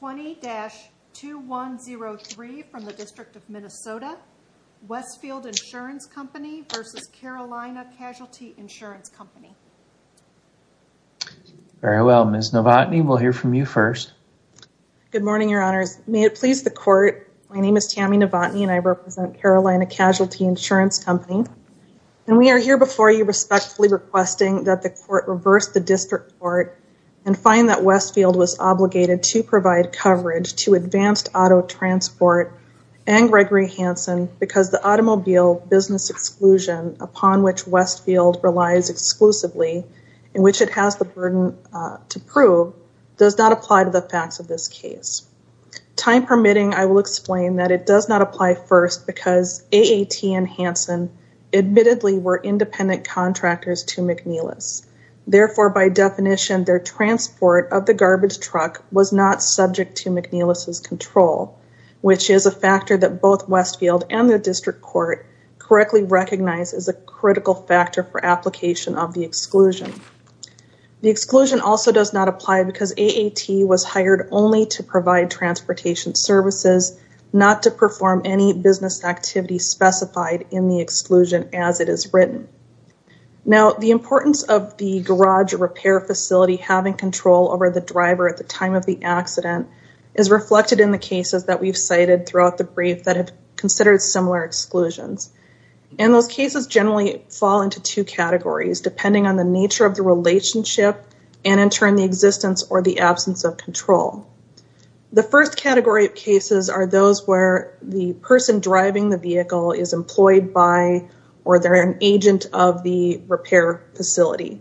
20-2103 from the District of Minnesota, Westfield Insurance Company v. Carolina Casualty Insurance Company. Very well, Ms. Novotny, we'll hear from you first. Good morning, Your Honors. May it please the Court, my name is Tammy Novotny and I represent Carolina Casualty Insurance Company. And we are here before you respectfully requesting that the Court reverse the District Court and find that Westfield was obligated to provide coverage to Advanced Auto Transport and Gregory Hansen because the automobile business exclusion upon which Westfield relies exclusively, in which it has the burden to prove, does not apply to the facts of this case. Time permitting, I will explain that it does not apply first because AAT and Hansen admittedly were independent contractors to McNeilis. Therefore, by definition, their transport of the garbage truck was not subject to McNeilis' control, which is a factor that both Westfield and the District Court correctly recognize as a critical factor for application of the exclusion. The exclusion also does not apply because AAT was hired only to provide transportation services, not to perform any business activity specified in the exclusion as it is written. Now, the importance of the garage repair facility having control over the driver at the time of the accident is reflected in the cases that we've cited throughout the brief that have considered similar exclusions. And those cases generally fall into two categories, depending on the nature of the relationship and in turn the existence or the absence of control. The first category of cases are those where the person driving the vehicle is employed by or they're an agent of the repair facility.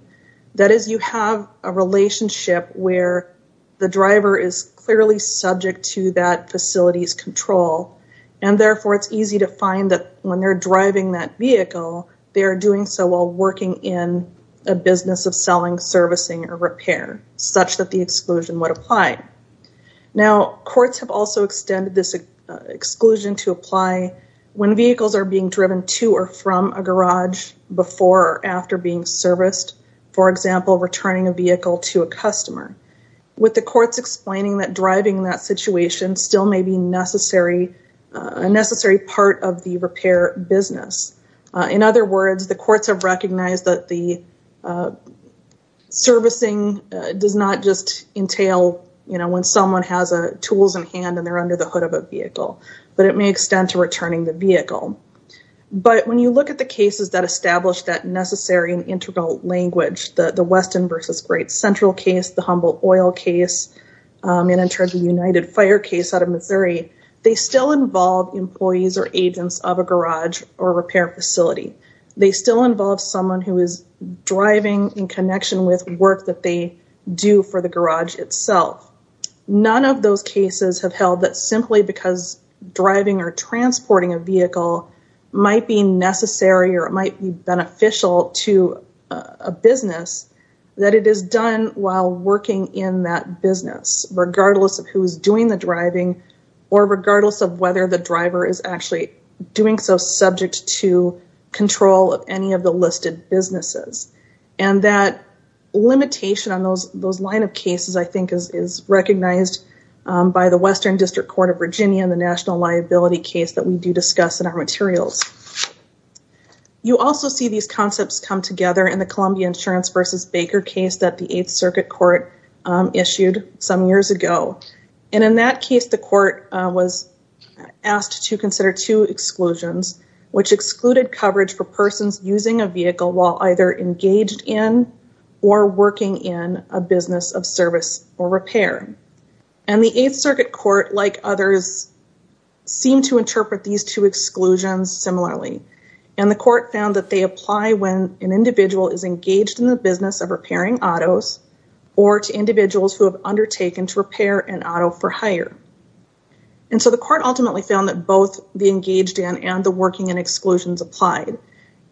That is, you have a relationship where the driver is clearly subject to that facility's control. And therefore, it's easy to find that when they're driving that vehicle, they are doing so while working in a business of selling, servicing, or repair, such that the exclusion would apply. Now, courts have also extended this exclusion to apply when vehicles are being driven to or from a garage before or after being serviced. For example, returning a vehicle to a customer, with the courts explaining that driving that situation still may be a necessary part of the repair business. In other words, the courts have recognized that the servicing does not just entail when someone has tools in hand and they're under the hood of a vehicle, but it may extend to returning the vehicle. But when you look at the cases that establish that necessary and integral language, the Weston v. Great Central case, the Humboldt Oil case, and in terms of the United Fire case out of Missouri, they still involve employees or agents of a garage or repair facility. They still involve someone who is driving in connection with work that they do for the garage itself. None of those cases have held that simply because driving or transporting a vehicle might be necessary or it might be beneficial to a business, that it is done while working in that business, regardless of who is doing the driving or regardless of whether the driver is actually doing so subject to control of any of the listed businesses. And that limitation on those line of cases, I think, is recognized by the Western District Court of Virginia in the national liability case that we do discuss in our materials. You also see these concepts come together in the Columbia Insurance v. Baker case that the Eighth Circuit Court issued some years ago. And in that case, the court was asked to consider two exclusions, which excluded coverage for persons using a vehicle while either engaged in or working in a business of service or repair. And the Eighth Circuit Court, like others, seemed to interpret these two exclusions similarly. And the court found that they apply when an individual is engaged in the business of repairing autos or to individuals who have undertaken to repair an auto for hire. And so the court ultimately found that both the engaged in and the working in exclusions applied.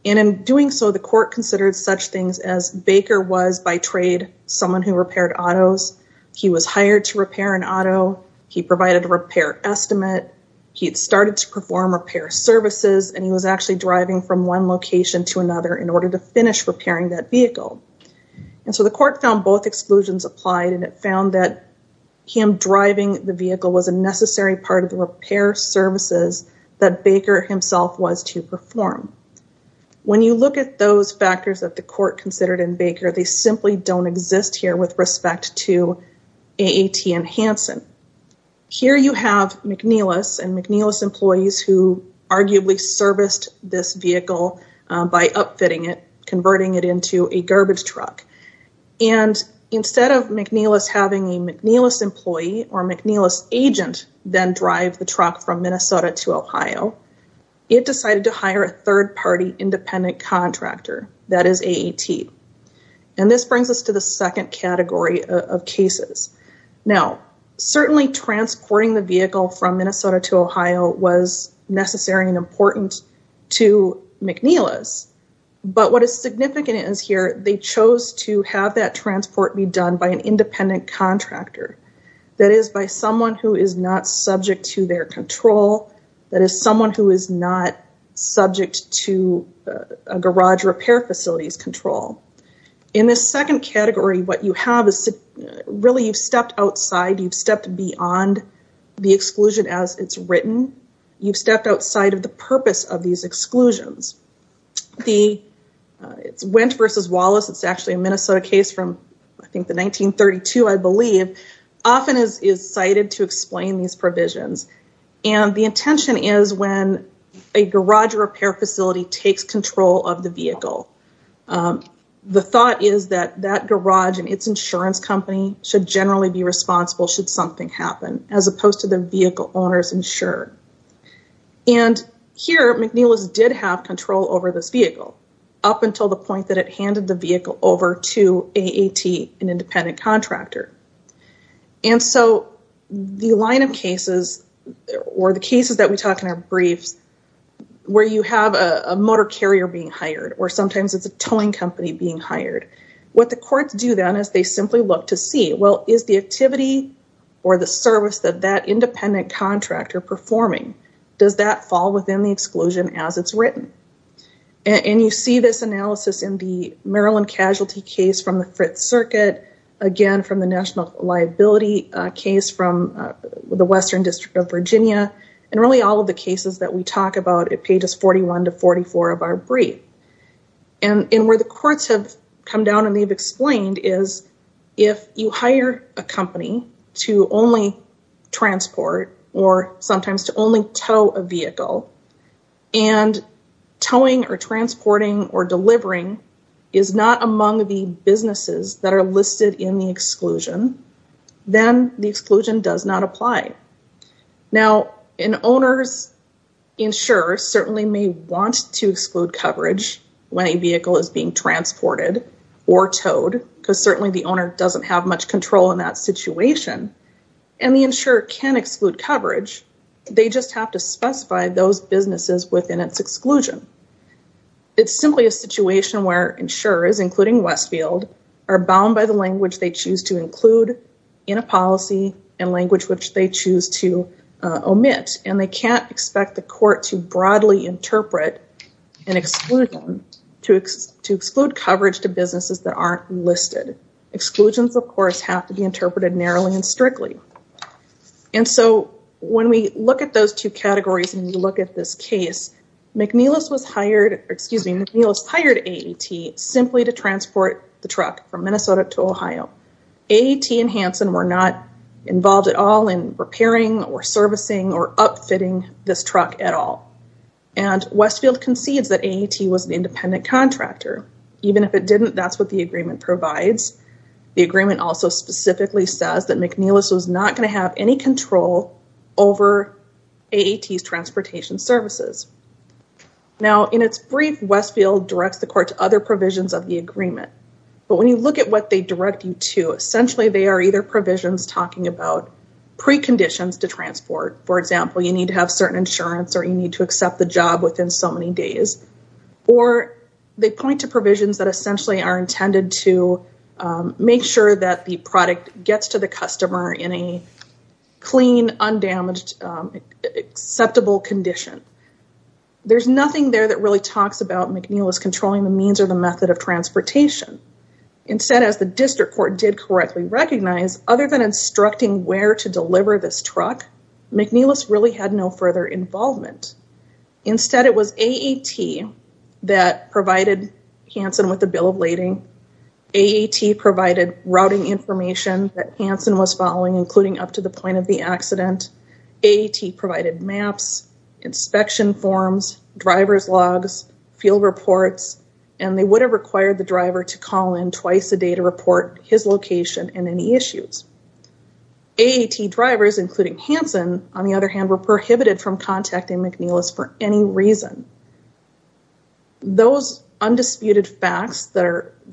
And in doing so, the court considered such things as Baker was, by trade, someone who repaired autos. He was hired to repair an auto. He provided a repair estimate. He had started to perform repair services. And he was actually driving from one location to another in order to finish repairing that vehicle. And so the court found both exclusions applied and it found that him driving the vehicle was a necessary part of the repair services that Baker himself was to perform. When you look at those factors that the court considered in Baker, they simply don't exist here with respect to AAT and Hanson. Here you have McNeilis and McNeilis employees who arguably serviced this vehicle by upfitting it, converting it into a garbage truck. And instead of McNeilis having a McNeilis employee or McNeilis agent then drive the truck from Minnesota to Ohio, it decided to hire a third-party independent contractor, that is AAT. And this brings us to the second category of cases. Now, certainly transporting the vehicle from Minnesota to Ohio was necessary and important to McNeilis. But what is significant is here they chose to have that transport be done by an independent contractor. That is by someone who is not subject to their control. That is someone who is not subject to a garage repair facility's control. In this second category, what you have is really you've stepped outside. You've stepped beyond the exclusion as it's written. You've stepped outside of the purpose of these exclusions. It's Wendt versus Wallace. It's actually a Minnesota case from I think the 1932, I believe, often is cited to explain these provisions. And the intention is when a garage repair facility takes control of the vehicle. The thought is that that garage and its insurance company should generally be responsible should something happen as opposed to the vehicle owners insured. And here McNeilis did have control over this vehicle up until the point that it handed the vehicle over to AAT, an independent contractor. And so the line of cases or the cases that we talk in our briefs where you have a motor carrier being hired or sometimes it's a towing company being hired, what the courts do then is they simply look to see, well, is the activity or the service that that independent contractor performing, does that fall within the exclusion as it's written? And you see this analysis in the Maryland casualty case from the Fifth Circuit, again, from the national liability case from the Western District of Virginia, and really all of the cases that we talk about at pages 41 to 44 of our brief. And where the courts have come down and they've explained is if you hire a company to only transport or sometimes to only tow a vehicle, and towing or transporting or delivering is not among the businesses that are listed in the exclusion, then the exclusion does not apply. Now, an owner's insurer certainly may want to exclude coverage when a vehicle is being transported or towed, because certainly the owner doesn't have much control in that situation, and the insurer can exclude coverage. They just have to specify those businesses within its exclusion. It's simply a situation where insurers, including Westfield, are bound by the language they choose to include in a policy and language which they choose to omit. And they can't expect the court to broadly interpret an exclusion to exclude coverage to businesses that aren't listed. Exclusions, of course, have to be interpreted narrowly and strictly. And so when we look at those two categories and you look at this case, McNeillis was hired, excuse me, McNeillis hired AAT simply to transport the truck from Minnesota to Ohio. AAT and Hanson were not involved at all in repairing or servicing or upfitting this truck at all. And Westfield concedes that AAT was an independent contractor. Even if it didn't, that's what the agreement provides. The agreement also specifically says that McNeillis was not going to have any control over AAT's transportation services. Now, in its brief, Westfield directs the court to other provisions of the agreement. But when you look at what they direct you to, essentially, they are either provisions talking about preconditions to transport. For example, you need to have certain insurance or you need to accept the job within so many days. Or they point to provisions that essentially are intended to make sure that the product gets to the customer in a clean, undamaged, acceptable condition. There's nothing there that really talks about McNeillis controlling the means or the method of transportation. Instead, as the district court did correctly recognize, other than instructing where to deliver this truck, McNeillis really had no further involvement. Instead, it was AAT that provided Hansen with a bill of lading. AAT provided routing information that Hansen was following, including up to the point of the accident. AAT provided maps, inspection forms, driver's logs, field reports. And they would have required the driver to call in twice a day to report his location and any issues. AAT drivers, including Hansen, on the other hand, were prohibited from contacting McNeillis for any reason. Those undisputed facts that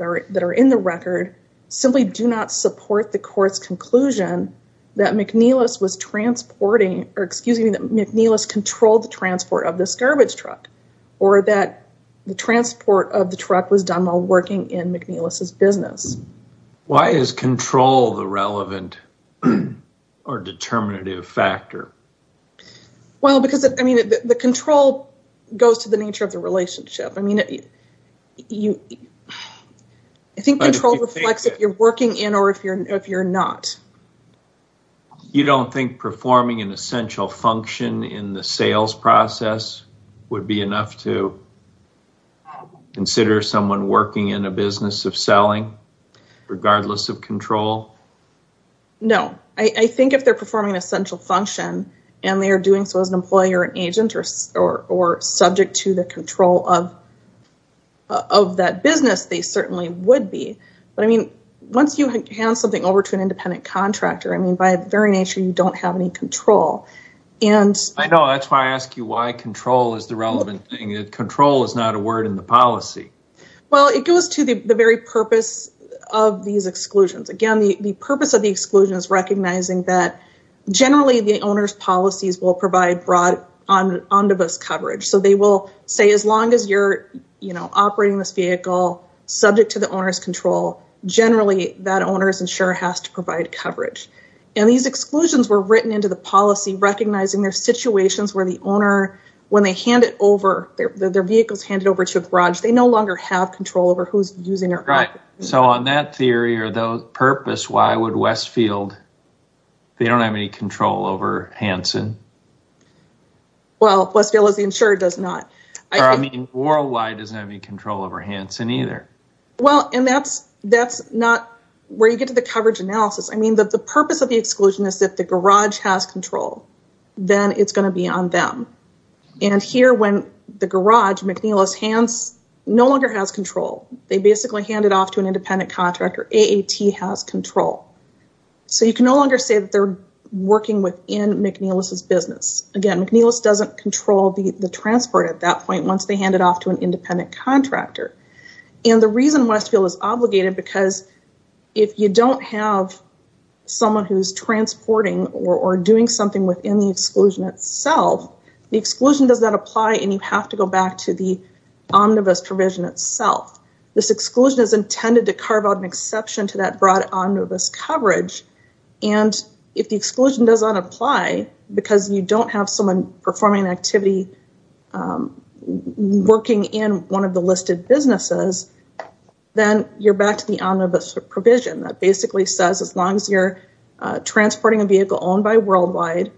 are in the record simply do not support the court's conclusion that McNeillis was transporting, or excuse me, that McNeillis controlled the transport of this garbage truck. Or that the transport of the truck was done while working in McNeillis' business. Why is control the relevant or determinative factor? Well, because, I mean, the control goes to the nature of the relationship. I mean, I think control reflects if you're working in or if you're not. You don't think performing an essential function in the sales process would be enough to consider someone working in a business of selling? Regardless of control? No. I think if they're performing an essential function and they are doing so as an employee or an agent or subject to the control of that business, they certainly would be. But, I mean, once you hand something over to an independent contractor, I mean, by the very nature, you don't have any control. I know. That's why I ask you why control is the relevant thing. Control is not a word in the policy. Well, it goes to the very purpose of these exclusions. Again, the purpose of the exclusion is recognizing that generally the owner's policies will provide broad omnibus coverage. So, they will say as long as you're, you know, operating this vehicle subject to the owner's control, generally that owner's insurer has to provide coverage. And these exclusions were written into the policy recognizing their situations where the owner, when they hand it over, their vehicle is handed over to a garage, they no longer have control over who's using it. Right. So, on that theory or that purpose, why would Westfield, they don't have any control over Hanson? Well, Westfield as the insurer does not. Or, I mean, Worldwide doesn't have any control over Hanson either. Well, and that's not where you get to the coverage analysis. I mean, the purpose of the exclusion is that the garage has control. Then it's going to be on them. And here when the garage, McNeillis, no longer has control. They basically hand it off to an independent contractor. AAT has control. So, you can no longer say that they're working within McNeillis' business. Again, McNeillis doesn't control the transport at that point once they hand it off to an independent contractor. And the reason Westfield is obligated because if you don't have someone who's transporting or doing something within the exclusion itself, the exclusion does not apply and you have to go back to the omnibus provision itself. This exclusion is intended to carve out an exception to that broad omnibus coverage. And if the exclusion does not apply because you don't have someone performing an activity working in one of the listed businesses, then you're back to the omnibus provision. That basically says as long as you're transporting a vehicle owned by Worldwide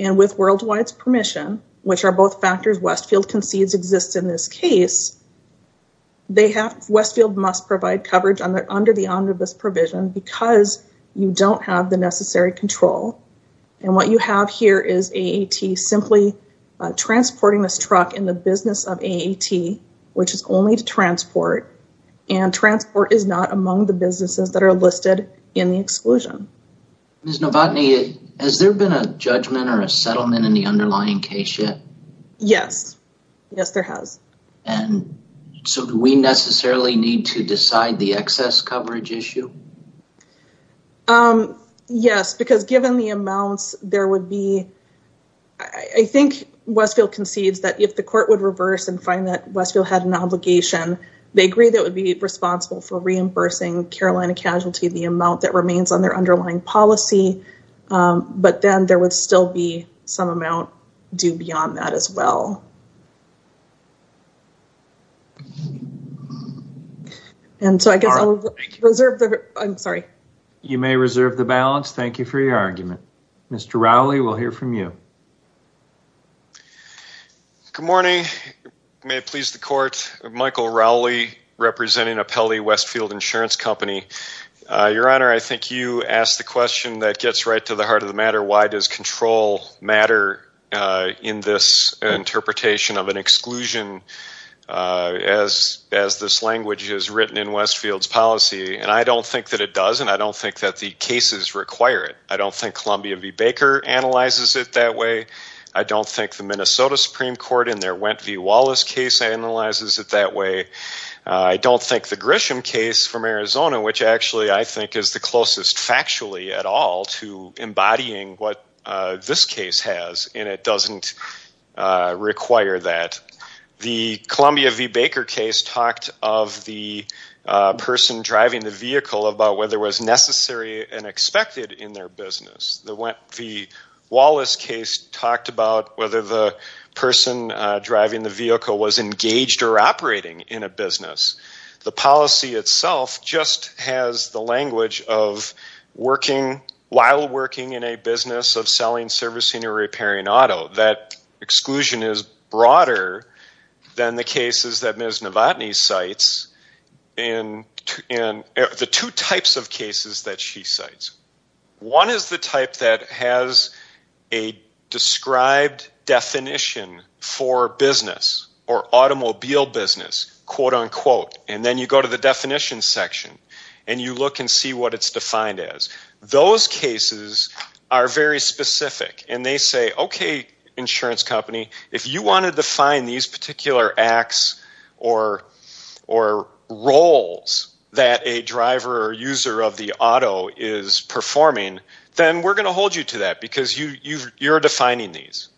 and with Worldwide's permission, which are both factors Westfield concedes exist in this case. Westfield must provide coverage under the omnibus provision because you don't have the necessary control. And what you have here is AAT simply transporting this truck in the business of AAT, which is only to transport. And transport is not among the businesses that are listed in the exclusion. Ms. Novotny, has there been a judgment or a settlement in the underlying case yet? Yes. Yes, there has. And so do we necessarily need to decide the excess coverage issue? Yes, because given the amounts there would be, I think Westfield concedes that if the court would reverse and find that Westfield had an obligation, they agree that would be responsible for reimbursing Carolina Casualty the amount that remains on their underlying policy. But then there would still be some amount due beyond that as well. And so I guess I'll reserve, I'm sorry. You may reserve the balance. Thank you for your argument. Mr. Rowley, we'll hear from you. Good morning. May it please the court. Michael Rowley representing Apelli Westfield Insurance Company. Your Honor, I think you asked the question that gets right to the heart of the matter. Why does control matter in this interpretation of an exclusion as this language is written in Westfield's policy? And I don't think that it does. And I don't think that the cases require it. I don't think Columbia v. Baker analyzes it that way. I don't think the Minnesota Supreme Court in their Went v. Wallace case analyzes it that way. I don't think the Grisham case from Arizona, which actually I think is the closest factually at all to embodying what this case has, and it doesn't require that. The Columbia v. Baker case talked of the person driving the vehicle about whether it was necessary and expected in their business. The Wallace case talked about whether the person driving the vehicle was engaged or operating in a business. The policy itself just has the language of working, while working in a business, of selling, servicing, or repairing auto. That exclusion is broader than the cases that Ms. Novotny cites and the two types of cases that she cites. One is the type that has a described definition for business or automobile business, quote, unquote. And then you go to the definition section, and you look and see what it's defined as. Those cases are very specific, and they say, okay, insurance company, if you want to define these particular acts or roles that a driver or user of the auto is performing, then we're going to hold you to that because you're defining these.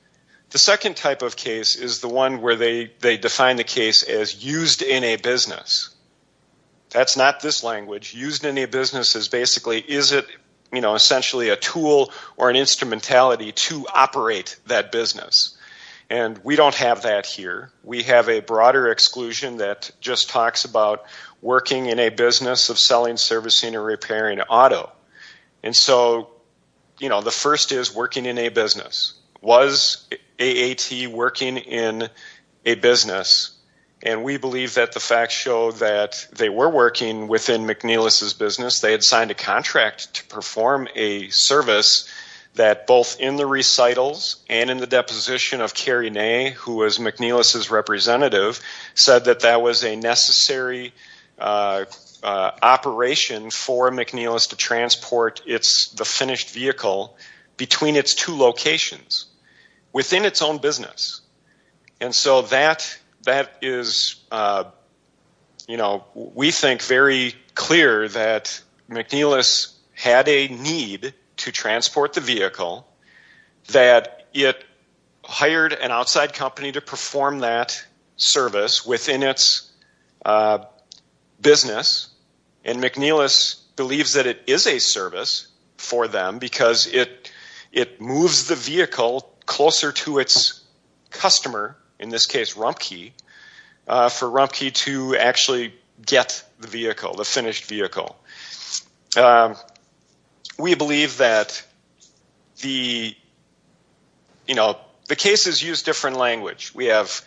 The second type of case is the one where they define the case as used in a business. That's not this language. Used in a business is basically is it, you know, essentially a tool or an instrumentality to operate that business. And we don't have that here. We have a broader exclusion that just talks about working in a business of selling, servicing, or repairing auto. And so, you know, the first is working in a business. Was AAT working in a business? And we believe that the facts show that they were working within McNeilis' business. They had signed a contract to perform a service that both in the recitals and in the deposition of Carrie Ney, who was McNeilis' representative, said that that was a necessary operation for McNeilis to transport the finished vehicle between its two locations within its own business. And so that is, you know, we think very clear that McNeilis had a need to transport the vehicle, that it hired an outside company to perform that service within its business, and McNeilis believes that it is a service for them because it moves the vehicle closer to its customer, in this case Rumpke, for Rumpke to actually get the vehicle, the finished vehicle. We believe that the, you know, the cases use different language. We have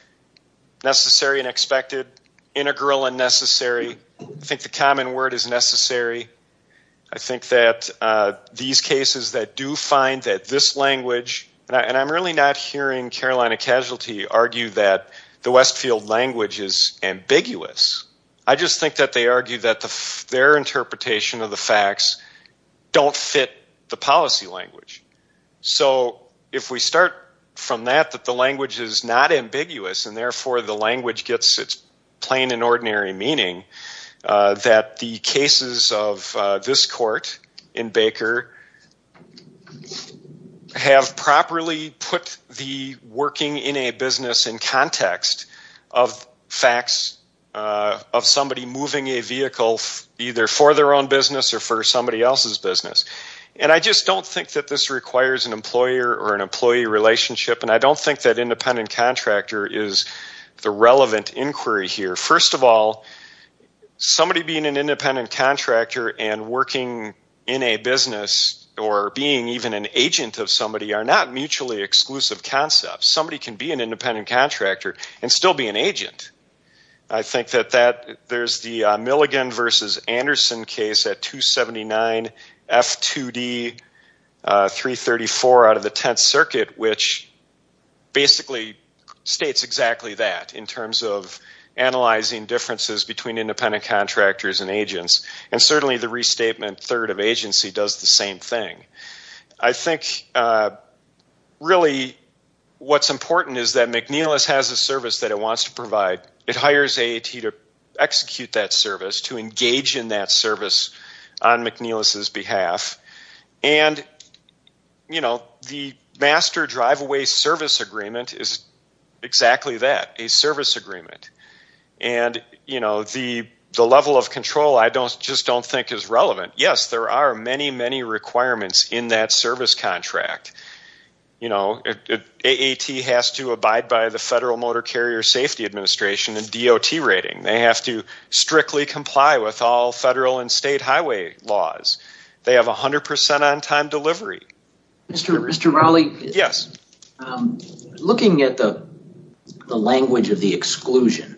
necessary and expected, integral and necessary. I think the common word is necessary. I think that these cases that do find that this language, and I'm really not hearing Carolina Casualty argue that the Westfield language is ambiguous. I just think that they argue that their interpretation of the facts don't fit the policy language. So if we start from that, that the language is not ambiguous, and therefore the language gets its plain and ordinary meaning, that the cases of this court in Baker have properly put the working in a business in context of facts of somebody moving a vehicle either for their own business or for somebody else's business. And I just don't think that this requires an employer or an employee relationship, and I don't think that independent contractor is the relevant inquiry here. First of all, somebody being an independent contractor and working in a business or being even an agent of somebody are not mutually exclusive concepts. Somebody can be an independent contractor and still be an agent. I think that there's the Milligan versus Anderson case at 279F2D334 out of the Tenth Circuit, which basically states exactly that in terms of analyzing differences between independent contractors and agents. And certainly the restatement third of agency does the same thing. I think really what's important is that McNeilis has a service that it wants to provide. It hires AAT to execute that service, to engage in that service on McNeilis's behalf. And, you know, the master driveway service agreement is exactly that, a service agreement. And, you know, the level of control I just don't think is relevant. Yes, there are many, many requirements in that service contract. You know, AAT has to abide by the Federal Motor Carrier Safety Administration and DOT rating. They have to strictly comply with all federal and state highway laws. They have 100% on time delivery. Mr. Rowley, looking at the language of the exclusion,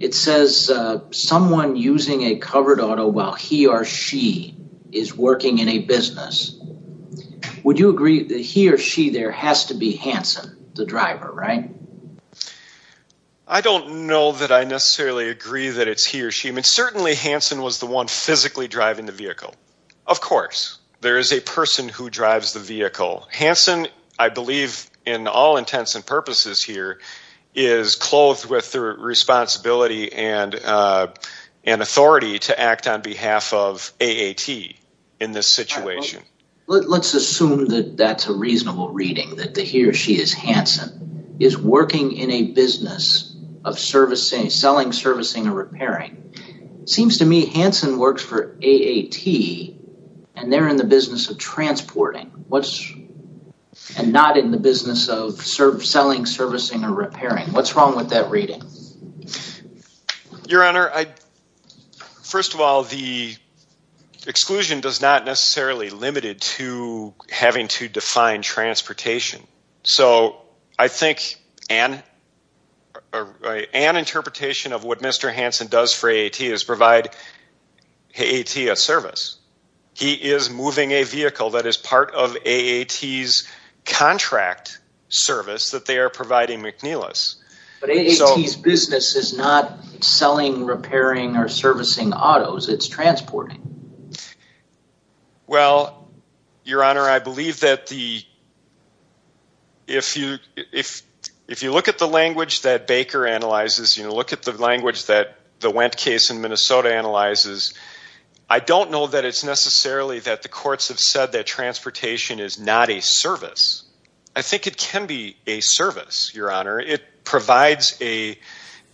it says someone using a covered auto while he or she is working in a business. Would you agree that he or she there has to be Hanson, the driver, right? I don't know that I necessarily agree that it's he or she. I mean, certainly Hanson was the one physically driving the vehicle. Of course, there is a person who drives the vehicle. Hanson, I believe, in all intents and purposes here, is clothed with the responsibility and authority to act on behalf of AAT in this situation. Let's assume that that's a reasonable reading, that he or she is Hanson, is working in a business of selling, servicing, or repairing. It seems to me Hanson works for AAT and they're in the business of transporting and not in the business of selling, servicing, or repairing. What's wrong with that reading? Your Honor, first of all, the exclusion does not necessarily limit it to having to define transportation. I think an interpretation of what Mr. Hanson does for AAT is provide AAT a service. He is moving a vehicle that is part of AAT's contract service that they are providing McNeilis. But AAT's business is not selling, repairing, or servicing autos. It's transporting. Well, Your Honor, I believe that if you look at the language that Baker analyzes, look at the language that the Wendt case in Minnesota analyzes, I don't know that it's necessarily that the courts have said that transportation is not a service. I think it can be a service, Your Honor. It provides a,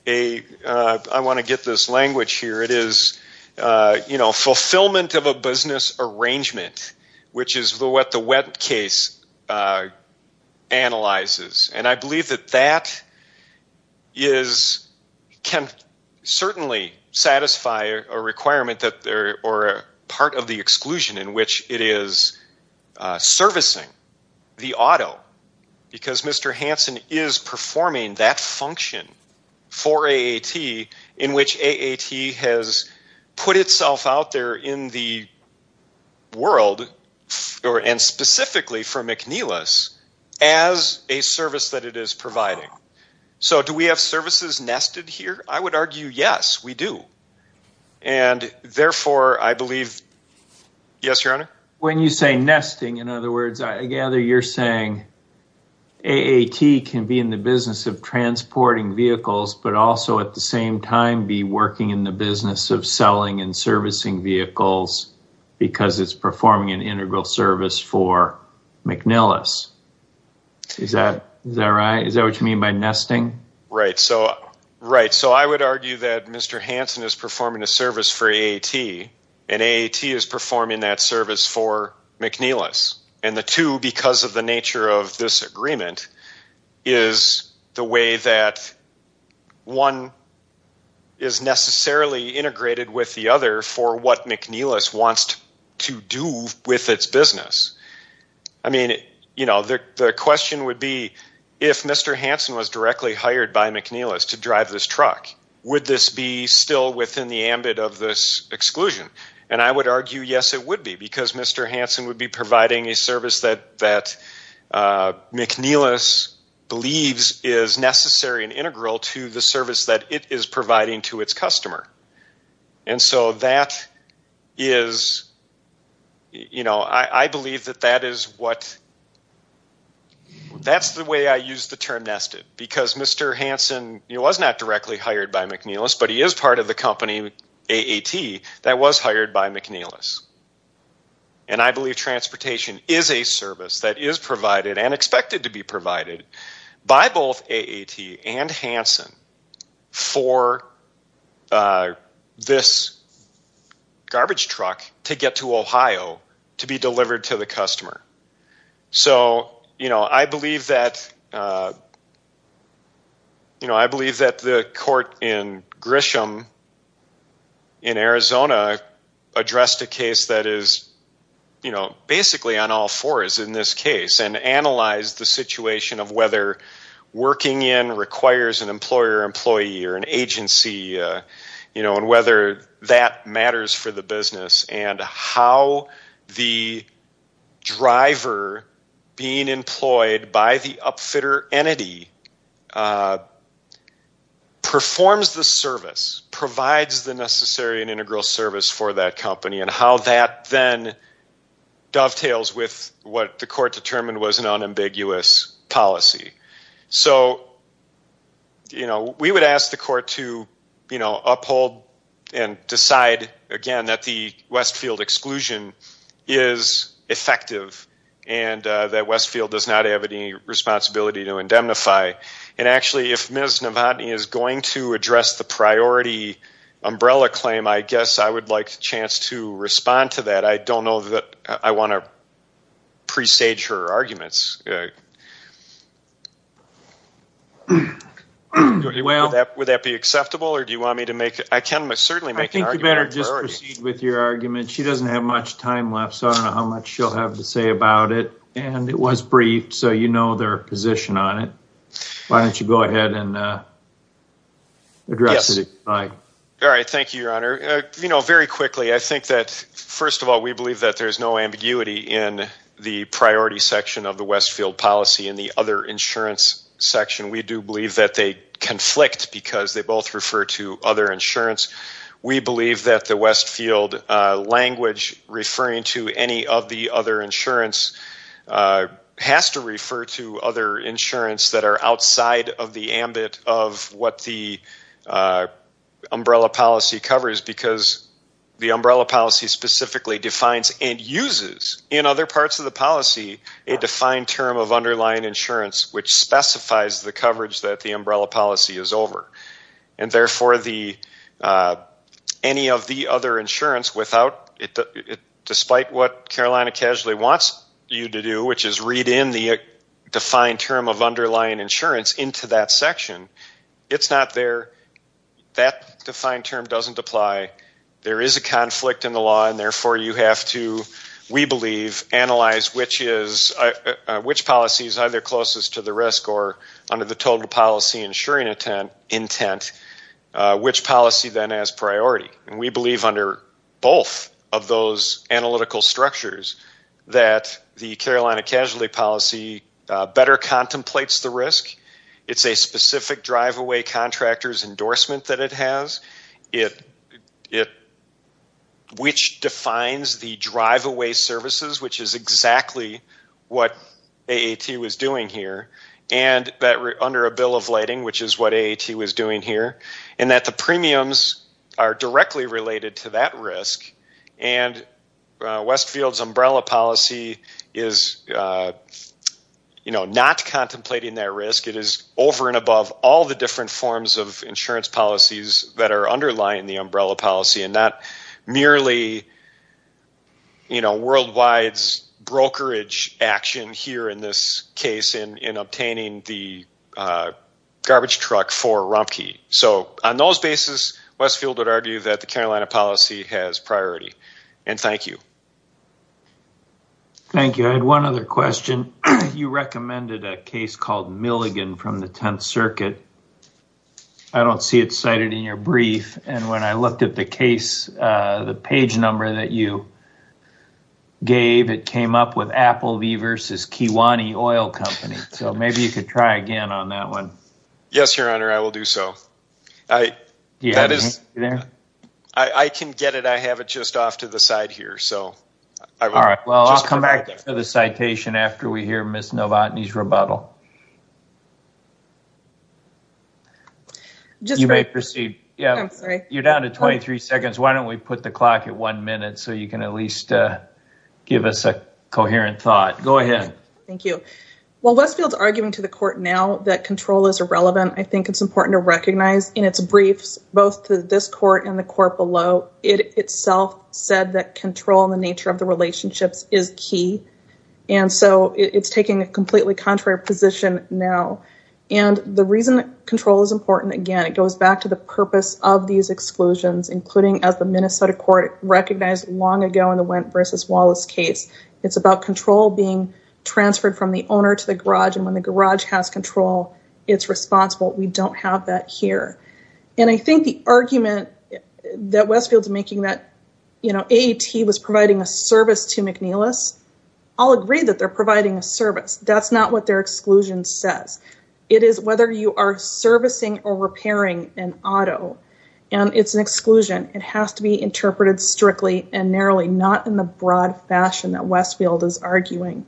I want to get this language here, it is fulfillment of a business arrangement, which is what the Wendt case analyzes. And I believe that that can certainly satisfy a requirement or part of the exclusion in which it is servicing the auto. Because Mr. Hanson is performing that function for AAT in which AAT has put itself out there in the world, and specifically for McNeilis, as a service that it is providing. So do we have services nested here? I would argue yes, we do. And therefore, I believe, yes, Your Honor? When you say nesting, in other words, I gather you're saying AAT can be in the business of transporting vehicles, but also at the same time be working in the business of selling and servicing vehicles because it's performing an integral service for McNeilis. Is that right? Is that what you mean by nesting? Right. So I would argue that Mr. Hanson is performing a service for AAT, and AAT is performing that service for McNeilis. And the two, because of the nature of this agreement, is the way that one is necessarily integrated with the other for what McNeilis wants to do with its business. I mean, you know, the question would be, if Mr. Hanson was directly hired by McNeilis to drive this truck, would this be still within the ambit of this exclusion? And I would argue yes, it would be, because Mr. Hanson would be providing a service that McNeilis believes is necessary and integral to the service that it is providing to its customer. And so that is, you know, I believe that that is what, that's the way I use the term nested, because Mr. Hanson was not directly hired by McNeilis, but he is part of the company AAT that was hired by McNeilis. And I believe transportation is a service that is provided and expected to be provided by both AAT and Hanson for this garbage truck to get to Ohio to be delivered to the customer. So, you know, I believe that, you know, I believe that the court in Grisham in Arizona addressed a case that is, you know, basically on all fours in this case, and analyzed the situation of whether working in requires an employer, employee, or an agency, you know, and whether that matters for the business, and how the driver being employed by the upfitter entity performs the service, provides the necessary and integral service for that company, and how that then dovetails with what the court determined was an unambiguous policy. So, you know, we would ask the court to, you know, uphold and decide, again, that the Westfield exclusion is effective, and that Westfield does not have any responsibility to indemnify. And actually, if Ms. Novotny is going to address the priority umbrella claim, I guess I would like a chance to respond to that. I don't know that I want to presage her arguments. Would that be acceptable, or do you want me to make it? I can certainly make an argument. I think you better just proceed with your argument. She doesn't have much time left, so I don't know how much she'll have to say about it, and it was briefed, so you know their position on it. Why don't you go ahead and address it. All right. Thank you, Your Honor. You know, very quickly, I think that, first of all, we believe that there's no ambiguity in the priority section of the Westfield policy. In the other insurance section, we do believe that they conflict because they both refer to other insurance. We believe that the Westfield language referring to any of the other insurance has to refer to other insurance that are outside of the ambit of what the umbrella policy covers, because the umbrella policy specifically defines and uses in other parts of the policy a defined term of underlying insurance, which specifies the coverage that the umbrella policy is over. And, therefore, any of the other insurance, despite what Carolina Casually wants you to do, which is read in the defined term of underlying insurance into that section, it's not there. That defined term doesn't apply. There is a conflict in the law, and, therefore, you have to, we believe, analyze which policy is either closest to the risk or under the total policy insuring intent, which policy then has priority. And we believe under both of those analytical structures that the Carolina Casually policy better contemplates the risk. It's a specific drive-away contractor's endorsement that it has. It, which defines the drive-away services, which is exactly what AAT was doing here, and that under a bill of lighting, which is what AAT was doing here, and that the premiums are directly related to that risk. And Westfield's umbrella policy is, you know, not contemplating that risk. It is over and above all the different forms of insurance policies that are underlying the umbrella policy and not merely, you know, worldwide's brokerage action here in this case in obtaining the garbage truck for Rumpke. So on those bases, Westfield would argue that the Carolina policy has priority. And thank you. Thank you. I had one other question. You recommended a case called Milligan from the 10th Circuit. I don't see it cited in your brief, and when I looked at the case, the page number that you gave, it came up with Apple v. Kiwane Oil Company. So maybe you could try again on that one. Yes, Your Honor, I will do so. Do you have it there? I can get it. I have it just off to the side here. All right. Well, I'll come back to the citation after we hear Ms. Novotny's rebuttal. You may proceed. I'm sorry. You're down to 23 seconds. Why don't we put the clock at one minute so you can at least give us a coherent thought? Go ahead. Thank you. While Westfield's arguing to the court now that control is irrelevant, I think it's important to recognize in its briefs, both to this court and the court below, it itself said that control in the nature of the relationships is key. And so it's taking a completely contrary position now. And the reason control is important, again, it goes back to the purpose of these exclusions, including as the Minnesota court recognized long ago in the Wendt v. Wallace case. It's about control being transferred from the owner to the garage, and when the garage has control, it's responsible. We don't have that here. And I think the argument that Westfield's making that, you know, AAT was providing a service to McNeilis, I'll agree that they're providing a service. That's not what their exclusion says. It is whether you are servicing or repairing an auto, and it's an exclusion. It has to be interpreted strictly and narrowly, not in the broad fashion that Westfield is arguing.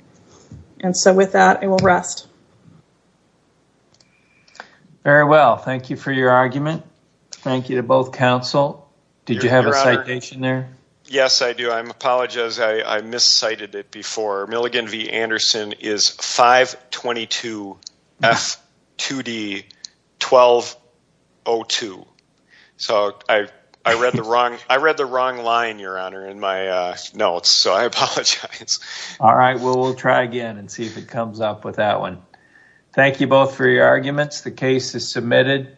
And so with that, I will rest. Very well. Thank you for your argument. Thank you to both counsel. Did you have a citation there? Yes, I do. I apologize. I miscited it before. Milligan v. Anderson is 522F2D1202. So I read the wrong line, Your Honor, in my notes, so I apologize. All right. Well, we'll try again and see if it comes up with that one. Thank you both for your arguments. The case is submitted.